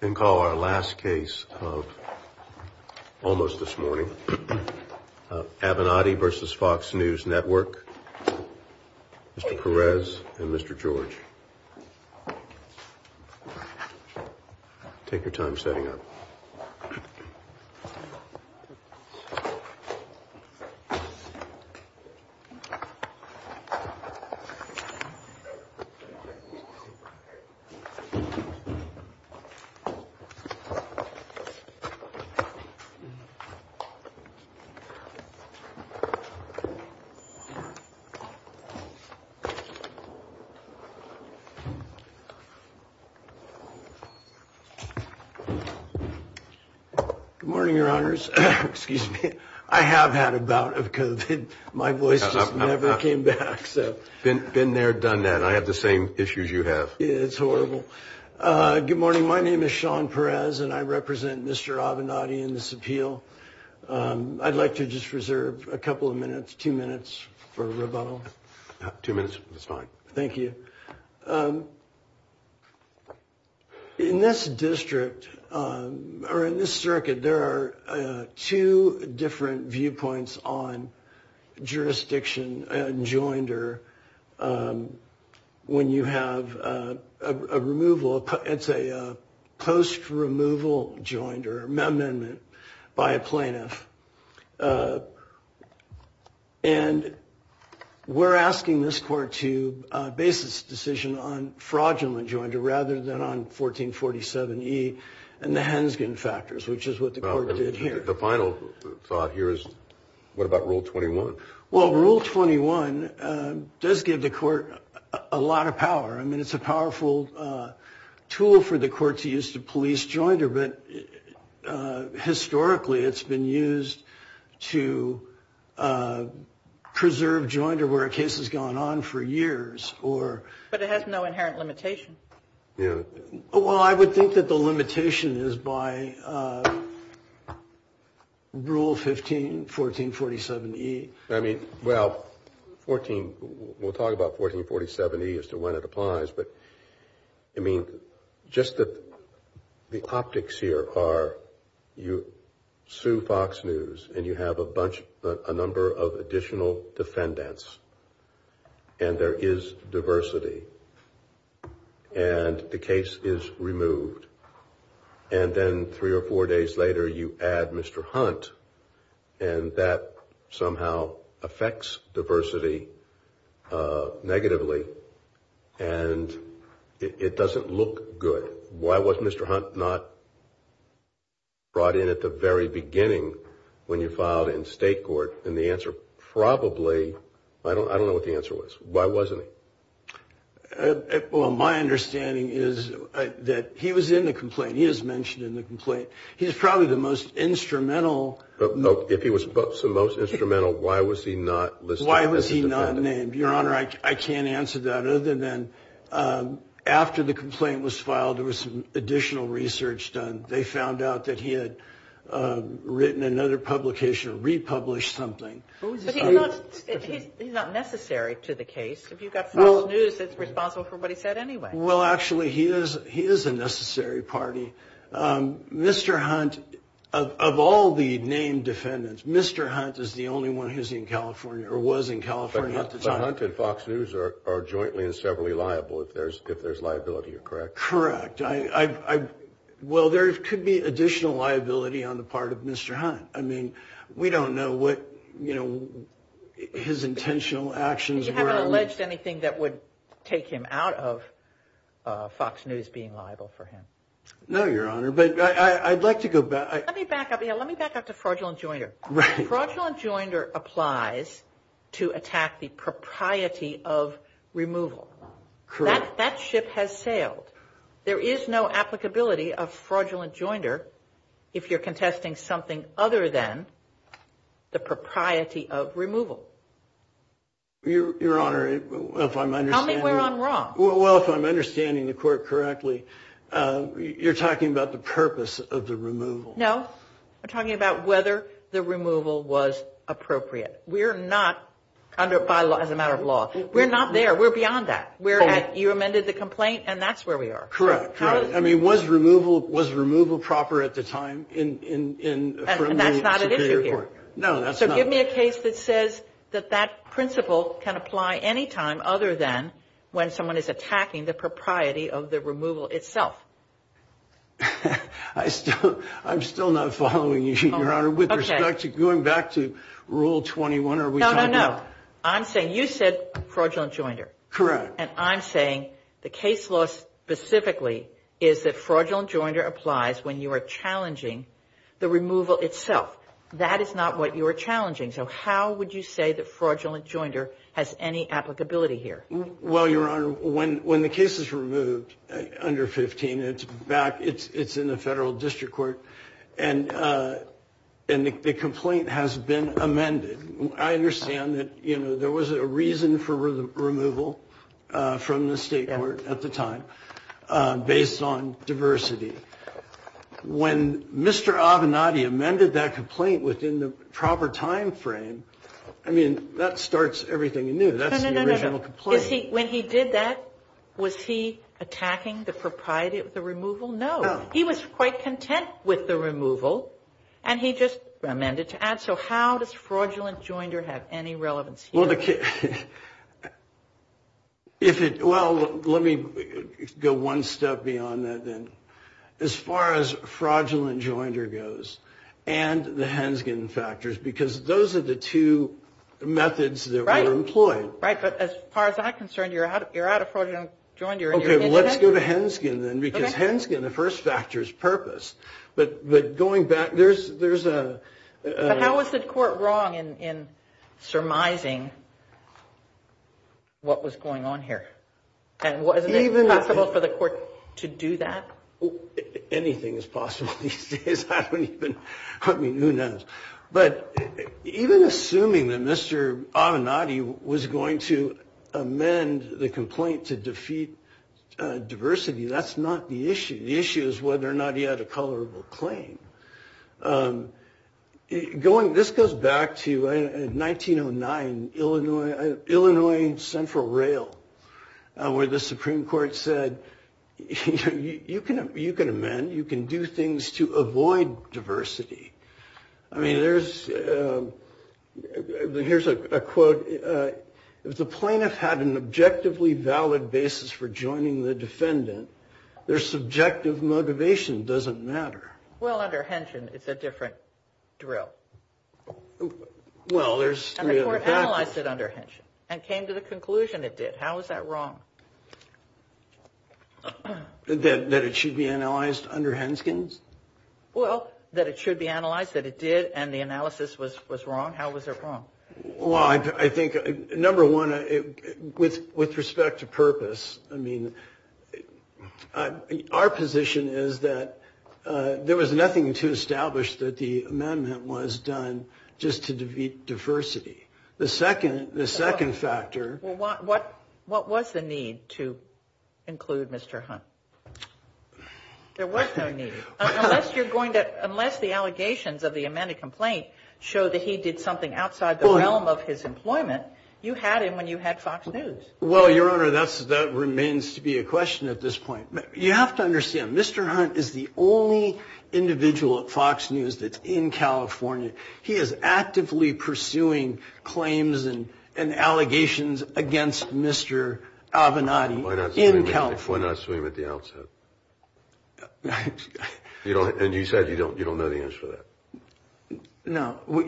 And call our last case of almost this morning, Avenatti versus Fox News Network, Mr. Perez and Mr. George. Take your time setting up. Good morning, your honors. Excuse me. I have had about it because my voice never came back. Been there, done that. I have the same issues you have. It's horrible. Good morning. My name is Sean Perez and I represent Mr. Avenatti in this appeal. I'd like to just reserve a couple of minutes, two minutes for rebuttal. Two minutes is fine. Thank you. In this district or in this circuit, there are two different viewpoints on jurisdiction and joinder. When you have a removal, it's a post removal joinder amendment by a plaintiff. And we're asking this court to base this decision on fraudulent joinder rather than on 1447E and the Henskin factors, which is what the court did here. The final thought here is what about Rule 21? Well, Rule 21 does give the court a lot of power. I mean, it's a powerful tool for the court to use to police joinder. But historically, it's been used to preserve joinder where a case has gone on for years or. But it has no inherent limitation. Well, I would think that the limitation is by Rule 15, 1447E. I mean, well, we'll talk about 1447E as to when it applies. But, I mean, just the optics here are you sue Fox News and you have a number of additional defendants. And there is diversity. And the case is removed. And then three or four days later, you add Mr. Hunt. And that somehow affects diversity negatively. And it doesn't look good. Why was Mr. Hunt not brought in at the very beginning when you filed in state court? And the answer probably, I don't know what the answer was. Why wasn't he? Well, my understanding is that he was in the complaint. He is mentioned in the complaint. He's probably the most instrumental. If he was the most instrumental, why was he not listed as a defendant? Why was he not named? Your Honor, I can't answer that other than after the complaint was filed, there was some additional research done. They found out that he had written another publication or republished something. But he's not necessary to the case. If you've got Fox News, it's responsible for what he said anyway. Well, actually, he is a necessary party. Mr. Hunt, of all the named defendants, Mr. Hunt is the only one who's in California or was in California at the time. But Hunt and Fox News are jointly and severally liable if there's liability, correct? Correct. Well, there could be additional liability on the part of Mr. Hunt. I mean, we don't know what, you know, his intentional actions were. You haven't alleged anything that would take him out of Fox News being liable for him? No, Your Honor. But I'd like to go back. Let me back up to fraudulent joinder. Fraudulent joinder applies to attack the propriety of removal. Correct. That ship has sailed. There is no applicability of fraudulent joinder if you're contesting something other than the propriety of removal. Your Honor, if I'm understanding. Tell me where I'm wrong. Well, if I'm understanding the court correctly, you're talking about the purpose of the removal. No. I'm talking about whether the removal was appropriate. We're not, as a matter of law, we're not there. We're beyond that. You amended the complaint and that's where we are. Correct. I mean, was removal proper at the time? And that's not an issue here. No, that's not. So give me a case that says that that principle can apply any time other than when someone is attacking the propriety of the removal itself. I'm still not following you, Your Honor. With respect to going back to Rule 21, are we talking about. No, no, no. I'm saying you said fraudulent joinder. Correct. And I'm saying the case law specifically is that fraudulent joinder applies when you are challenging the removal itself. That is not what you are challenging. So how would you say that fraudulent joinder has any applicability here? Well, Your Honor, when the case is removed under 15, it's back, it's in the federal district court, and the complaint has been amended. I understand that, you know, there was a reason for removal from the state court at the time based on diversity. When Mr. Avenatti amended that complaint within the proper time frame, I mean, that starts everything anew. That's the original complaint. No, no, no. When he did that, was he attacking the propriety of the removal? No. He was quite content with the removal. And he just amended to add. So how does fraudulent joinder have any relevance here? Well, let me go one step beyond that then. As far as fraudulent joinder goes and the Henskin factors, because those are the two methods that were employed. Right, but as far as I'm concerned, you're out of fraudulent joinder. Okay, well, let's go to Henskin then, because Henskin, the first factor is purpose. But going back, there's a – But how is the court wrong in surmising what was going on here? And wasn't it possible for the court to do that? Anything is possible these days. I don't even – I mean, who knows? But even assuming that Mr. Avenatti was going to amend the complaint to defeat diversity, that's not the issue. The issue is whether or not he had a tolerable claim. This goes back to 1909, Illinois Central Rail, where the Supreme Court said, you can amend. You can do things to avoid diversity. I mean, there's – here's a quote. If the plaintiff had an objectively valid basis for joining the defendant, their subjective motivation doesn't matter. Well, under Henshin, it's a different drill. Well, there's – And the court analyzed it under Henshin and came to the conclusion it did. How is that wrong? That it should be analyzed under Henskins? Well, that it should be analyzed, that it did, and the analysis was wrong? How was it wrong? Well, I think, number one, with respect to purpose, I mean, our position is that there was nothing to establish that the amendment was done just to defeat diversity. The second factor – Well, what was the need to include Mr. Hunt? There was no need. Unless you're going to – unless the allegations of the amended complaint show that he did something outside the realm of his employment, you had him when you had Fox News. Well, Your Honor, that remains to be a question at this point. You have to understand, Mr. Hunt is the only individual at Fox News that's in California. He is actively pursuing claims and allegations against Mr. Avenatti in California. Why not sue him at the outset? And you said you don't know the answer to that. No.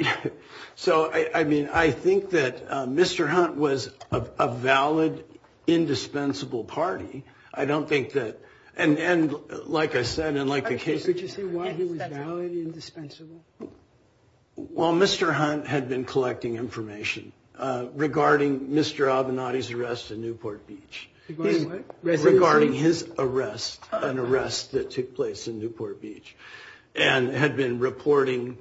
So, I mean, I think that Mr. Hunt was a valid, indispensable party. I don't think that – and like I said, and like the case – Could you say why he was valid, indispensable? Well, Mr. Hunt had been collecting information regarding Mr. Avenatti's arrest in Newport Beach. Regarding what? Regarding his arrest, an arrest that took place in Newport Beach. And had been reporting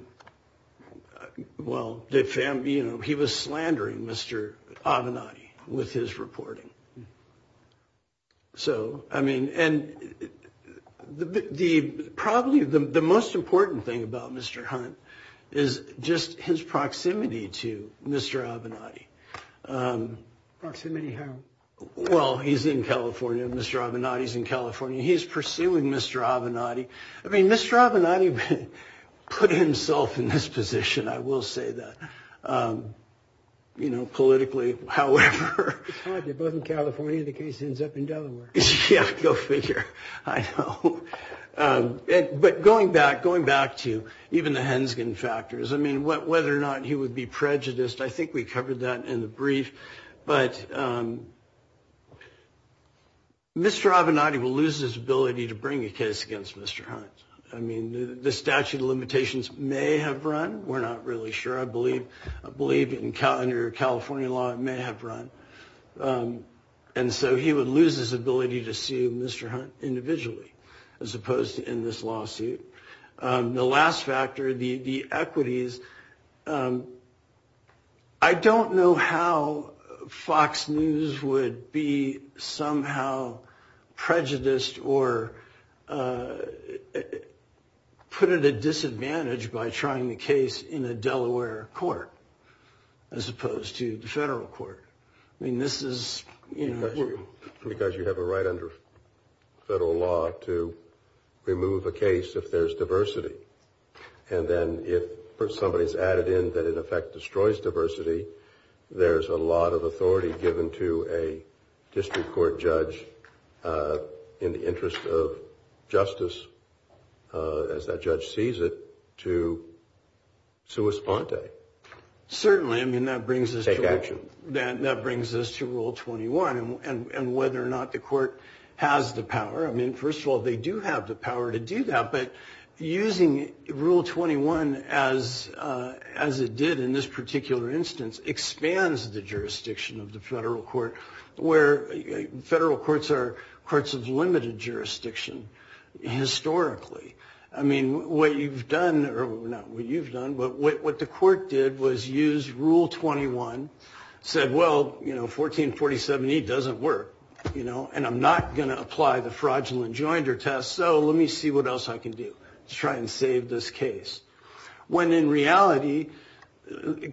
– well, he was slandering Mr. Avenatti with his reporting. So, I mean – and probably the most important thing about Mr. Hunt is just his proximity to Mr. Avenatti. Proximity how? Well, he's in California, Mr. Avenatti's in California. He's pursuing Mr. Avenatti. I mean, Mr. Avenatti put himself in this position, I will say that. You know, politically, however. It's fine, they're both in California. The case ends up in Delaware. Yeah, go figure. I know. But going back to even the Henskin factors, I mean, whether or not he would be prejudiced, I think we covered that in the brief. But Mr. Avenatti will lose his ability to bring a case against Mr. Hunt. I mean, the statute of limitations may have run. We're not really sure. I believe under California law it may have run. And so he would lose his ability to sue Mr. Hunt individually as opposed to in this lawsuit. The last factor, the equities, I don't know how Fox News would be somehow prejudiced or put at a disadvantage by trying the case in a Delaware court as opposed to the federal court. I mean, this is, you know. Because you have a right under federal law to remove a case if there's diversity. And then if somebody's added in that in effect destroys diversity, there's a lot of authority given to a district court judge in the interest of justice, as that judge sees it, to sue esponte. Certainly. I mean, that brings us to rule 21. And whether or not the court has the power, I mean, first of all, they do have the power to do that. But using rule 21 as it did in this particular instance expands the jurisdiction of the federal court, where federal courts are courts of limited jurisdiction historically. I mean, what you've done, or not what you've done, but what the court did was use rule 21, said, well, you know, 1447E doesn't work, you know, and I'm not going to apply the fraudulent joinder test. So let me see what else I can do to try and save this case. When in reality, the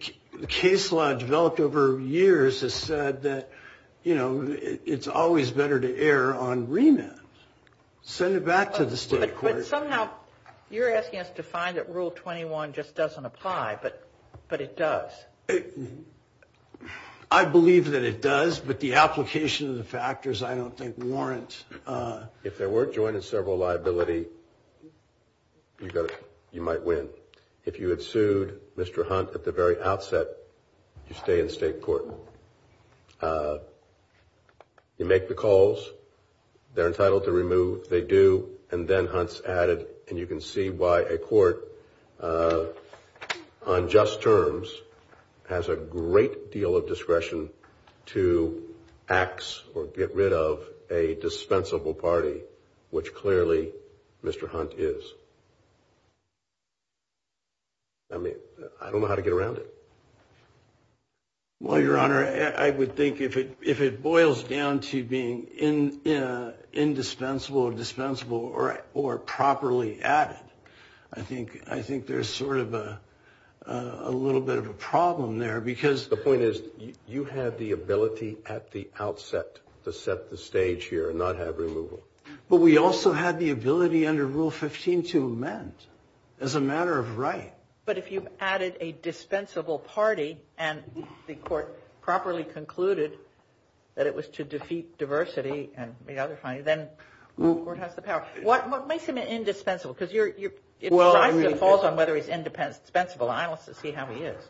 case law developed over years has said that, you know, it's always better to err on remand. Send it back to the state court. But somehow you're asking us to find that rule 21 just doesn't apply. But it does. I believe that it does. But the application of the factors I don't think warrant. If there were joint and several liability, you might win. If you had sued Mr. Hunt at the very outset, you stay in state court. You make the calls. They're entitled to remove. They do. And then Hunt's added. And you can see why a court on just terms has a great deal of discretion to ax or get rid of a dispensable party, which clearly Mr. Hunt is. I mean, I don't know how to get around it. Well, Your Honor, I would think if it if it boils down to being in indispensable, dispensable or or properly added. I think I think there's sort of a little bit of a problem there because the point is you have the ability at the outset to set the stage here and not have removal. But we also have the ability under Rule 15 to amend as a matter of right. But if you've added a dispensable party and the court properly concluded that it was to defeat diversity and the other fine, then court has the power. What makes him indispensable? Because you're well, it falls on whether he's independent, dispensable. I also see how he is.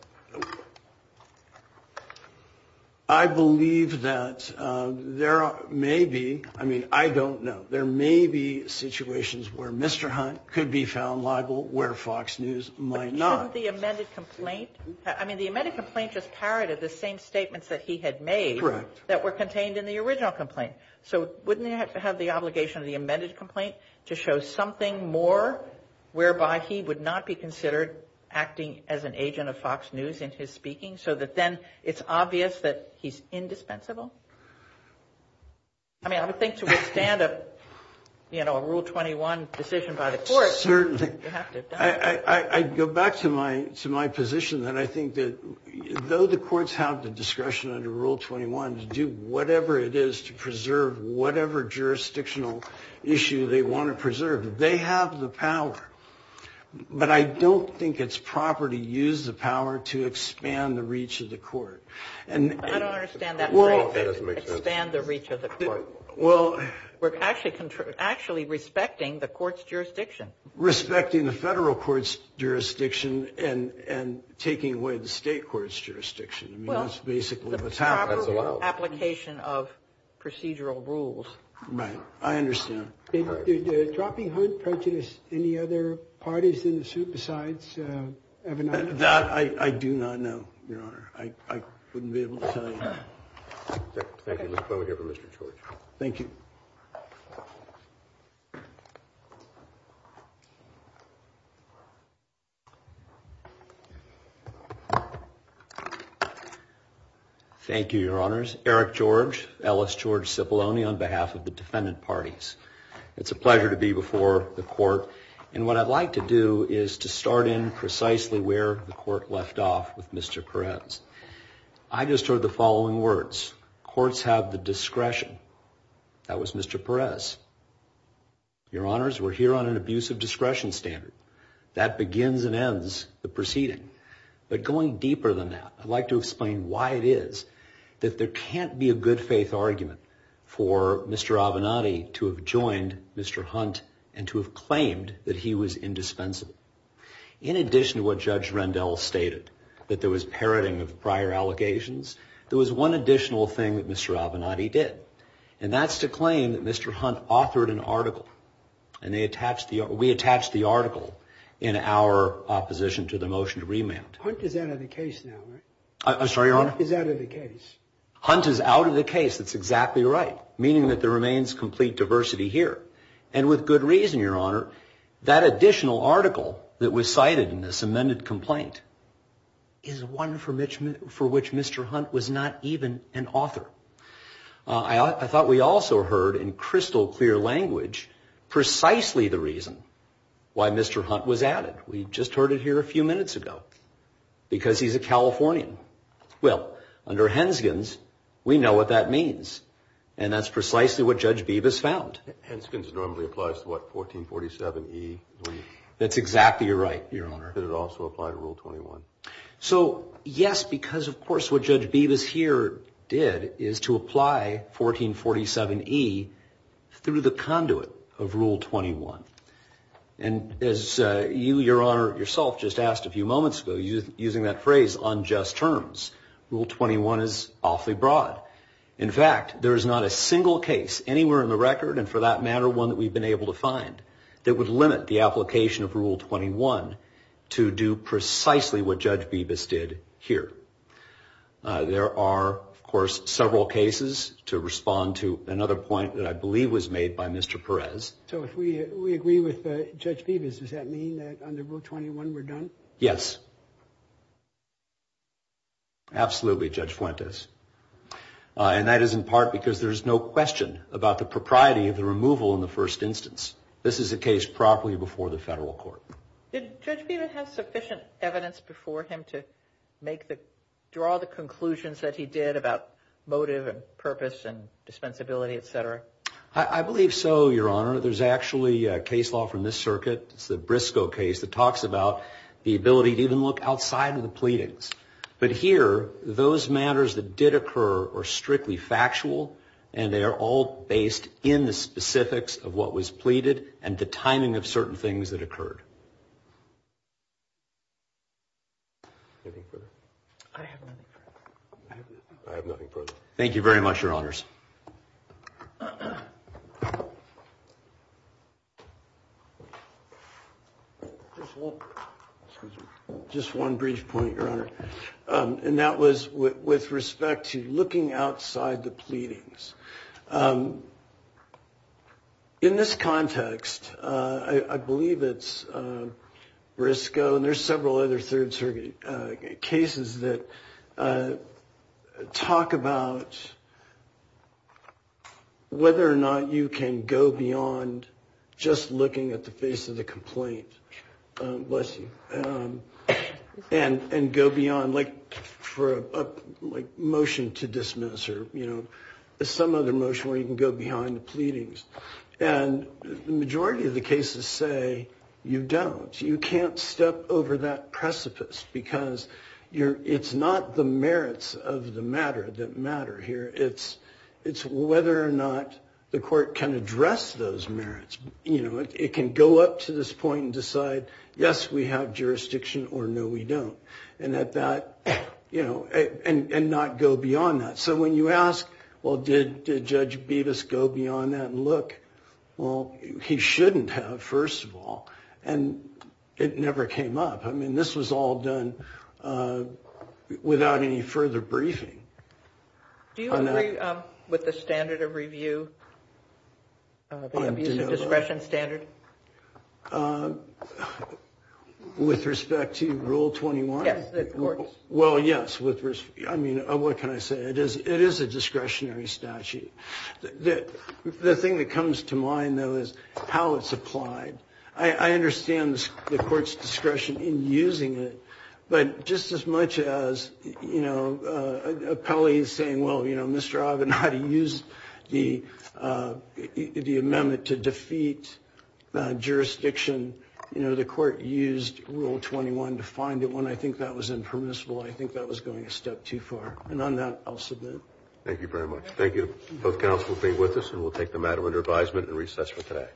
I believe that there may be. I mean, I don't know. There may be situations where Mr. Hunt could be found liable, where Fox News might not. The amended complaint. I mean, the amended complaint just parroted the same statements that he had made that were contained in the original complaint. So wouldn't you have to have the obligation of the amended complaint to show something more whereby he would not be considered acting as an agent of Fox News in his speaking? So that then it's obvious that he's indispensable. I mean, I would think to withstand a, you know, a Rule 21 decision by the court. Certainly. I'd go back to my position that I think that though the courts have the discretion under Rule 21 to do whatever it is to preserve whatever jurisdictional issue they want to preserve, they have the power. But I don't think it's proper to use the power to expand the reach of the court. I don't understand that. Well, that doesn't make sense. Expand the reach of the court. Well. We're actually respecting the court's jurisdiction. Respecting the federal court's jurisdiction and taking away the state court's jurisdiction. I mean, that's basically the proper application of procedural rules. Right. I understand. Did dropping Hunt prejudice any other parties in the suit besides Avenatti? That I do not know, Your Honor. I wouldn't be able to tell you. Thank you. Mr. Clement here for Mr. George. Thank you. Thank you, Your Honors. Eric George, Ellis George Cipollone on behalf of the defendant parties. It's a pleasure to be before the court. And what I'd like to do is to start in precisely where the court left off with Mr. Perez. I just heard the following words. Courts have the discretion. That was Mr. Perez. Your Honors, we're here on an abuse of discretion standard. That begins and ends the proceeding. But going deeper than that, I'd like to explain why it is that there can't be a good faith argument for Mr. Avenatti to have joined Mr. Hunt and to have claimed that he was indispensable. In addition to what Judge Rendell stated, that there was parroting of prior allegations, there was one additional thing that Mr. Avenatti did. And that's to claim that Mr. Hunt authored an article. And we attached the article in our opposition to the motion to remand. Hunt is out of the case now, right? I'm sorry, Your Honor? Hunt is out of the case. Hunt is out of the case. That's exactly right. Meaning that there remains complete diversity here. And with good reason, Your Honor. That additional article that was cited in this amended complaint is one for which Mr. Hunt was not even an author. I thought we also heard in crystal clear language precisely the reason why Mr. Hunt was added. We just heard it here a few minutes ago. Because he's a Californian. Well, under Henskins, we know what that means. And that's precisely what Judge Bevis found. Henskins normally applies to what, 1447E? That's exactly right, Your Honor. Did it also apply to Rule 21? So, yes, because of course what Judge Bevis here did is to apply 1447E through the conduit of Rule 21. And as you, Your Honor, yourself just asked a few moments ago, using that phrase, unjust terms, Rule 21 is awfully broad. In fact, there is not a single case anywhere in the record, and for that matter, one that we've been able to find, that would limit the application of Rule 21 to do precisely what Judge Bevis did here. There are, of course, several cases to respond to. Another point that I believe was made by Mr. Perez. So if we agree with Judge Bevis, does that mean that under Rule 21 we're done? Yes. Absolutely, Judge Fuentes. And that is in part because there is no question about the propriety of the removal in the first instance. This is a case properly before the federal court. Did Judge Bevis have sufficient evidence before him to make the, draw the conclusions that he did about motive and purpose and dispensability, et cetera? I believe so, Your Honor. There's actually a case law from this circuit. It's the Briscoe case that talks about the ability to even look outside of the pleadings. But here, those matters that did occur are strictly factual, and they are all based in the specifics of what was pleaded and the timing of certain things that occurred. Anything further? I have nothing further. I have nothing further. Thank you very much, Your Honors. Just one brief point, Your Honor, and that was with respect to looking outside the pleadings. In this context, I believe it's Briscoe, and there's several other third-circuit cases that talk about whether or not you can go beyond just looking at the face of the complaint. Bless you. And go beyond, like, for a motion to dismiss or, you know, some other motion where you can go behind the pleadings. And the majority of the cases say you don't. You can't step over that precipice because it's not the merits of the matter that matter here. It's whether or not the court can address those merits. It can go up to this point and decide, yes, we have jurisdiction, or no, we don't, and not go beyond that. So when you ask, well, did Judge Bevis go beyond that and look, well, he shouldn't have, first of all. And it never came up. I mean, this was all done without any further briefing. Do you agree with the standard of review, the abuse of discretion standard? With respect to Rule 21? Yes, the court's. Well, yes. I mean, what can I say? It is a discretionary statute. The thing that comes to mind, though, is how it's applied. I understand the court's discretion in using it, but just as much as, you know, an appellee saying, well, you know, Mr. Avanade used the amendment to defeat jurisdiction. You know, the court used Rule 21 to find it. When I think that was impermissible, I think that was going a step too far. And on that, I'll submit. Thank you very much. Thank you. Both counsel will be with us, and we'll take the matter under advisement and recess for today. Thank you.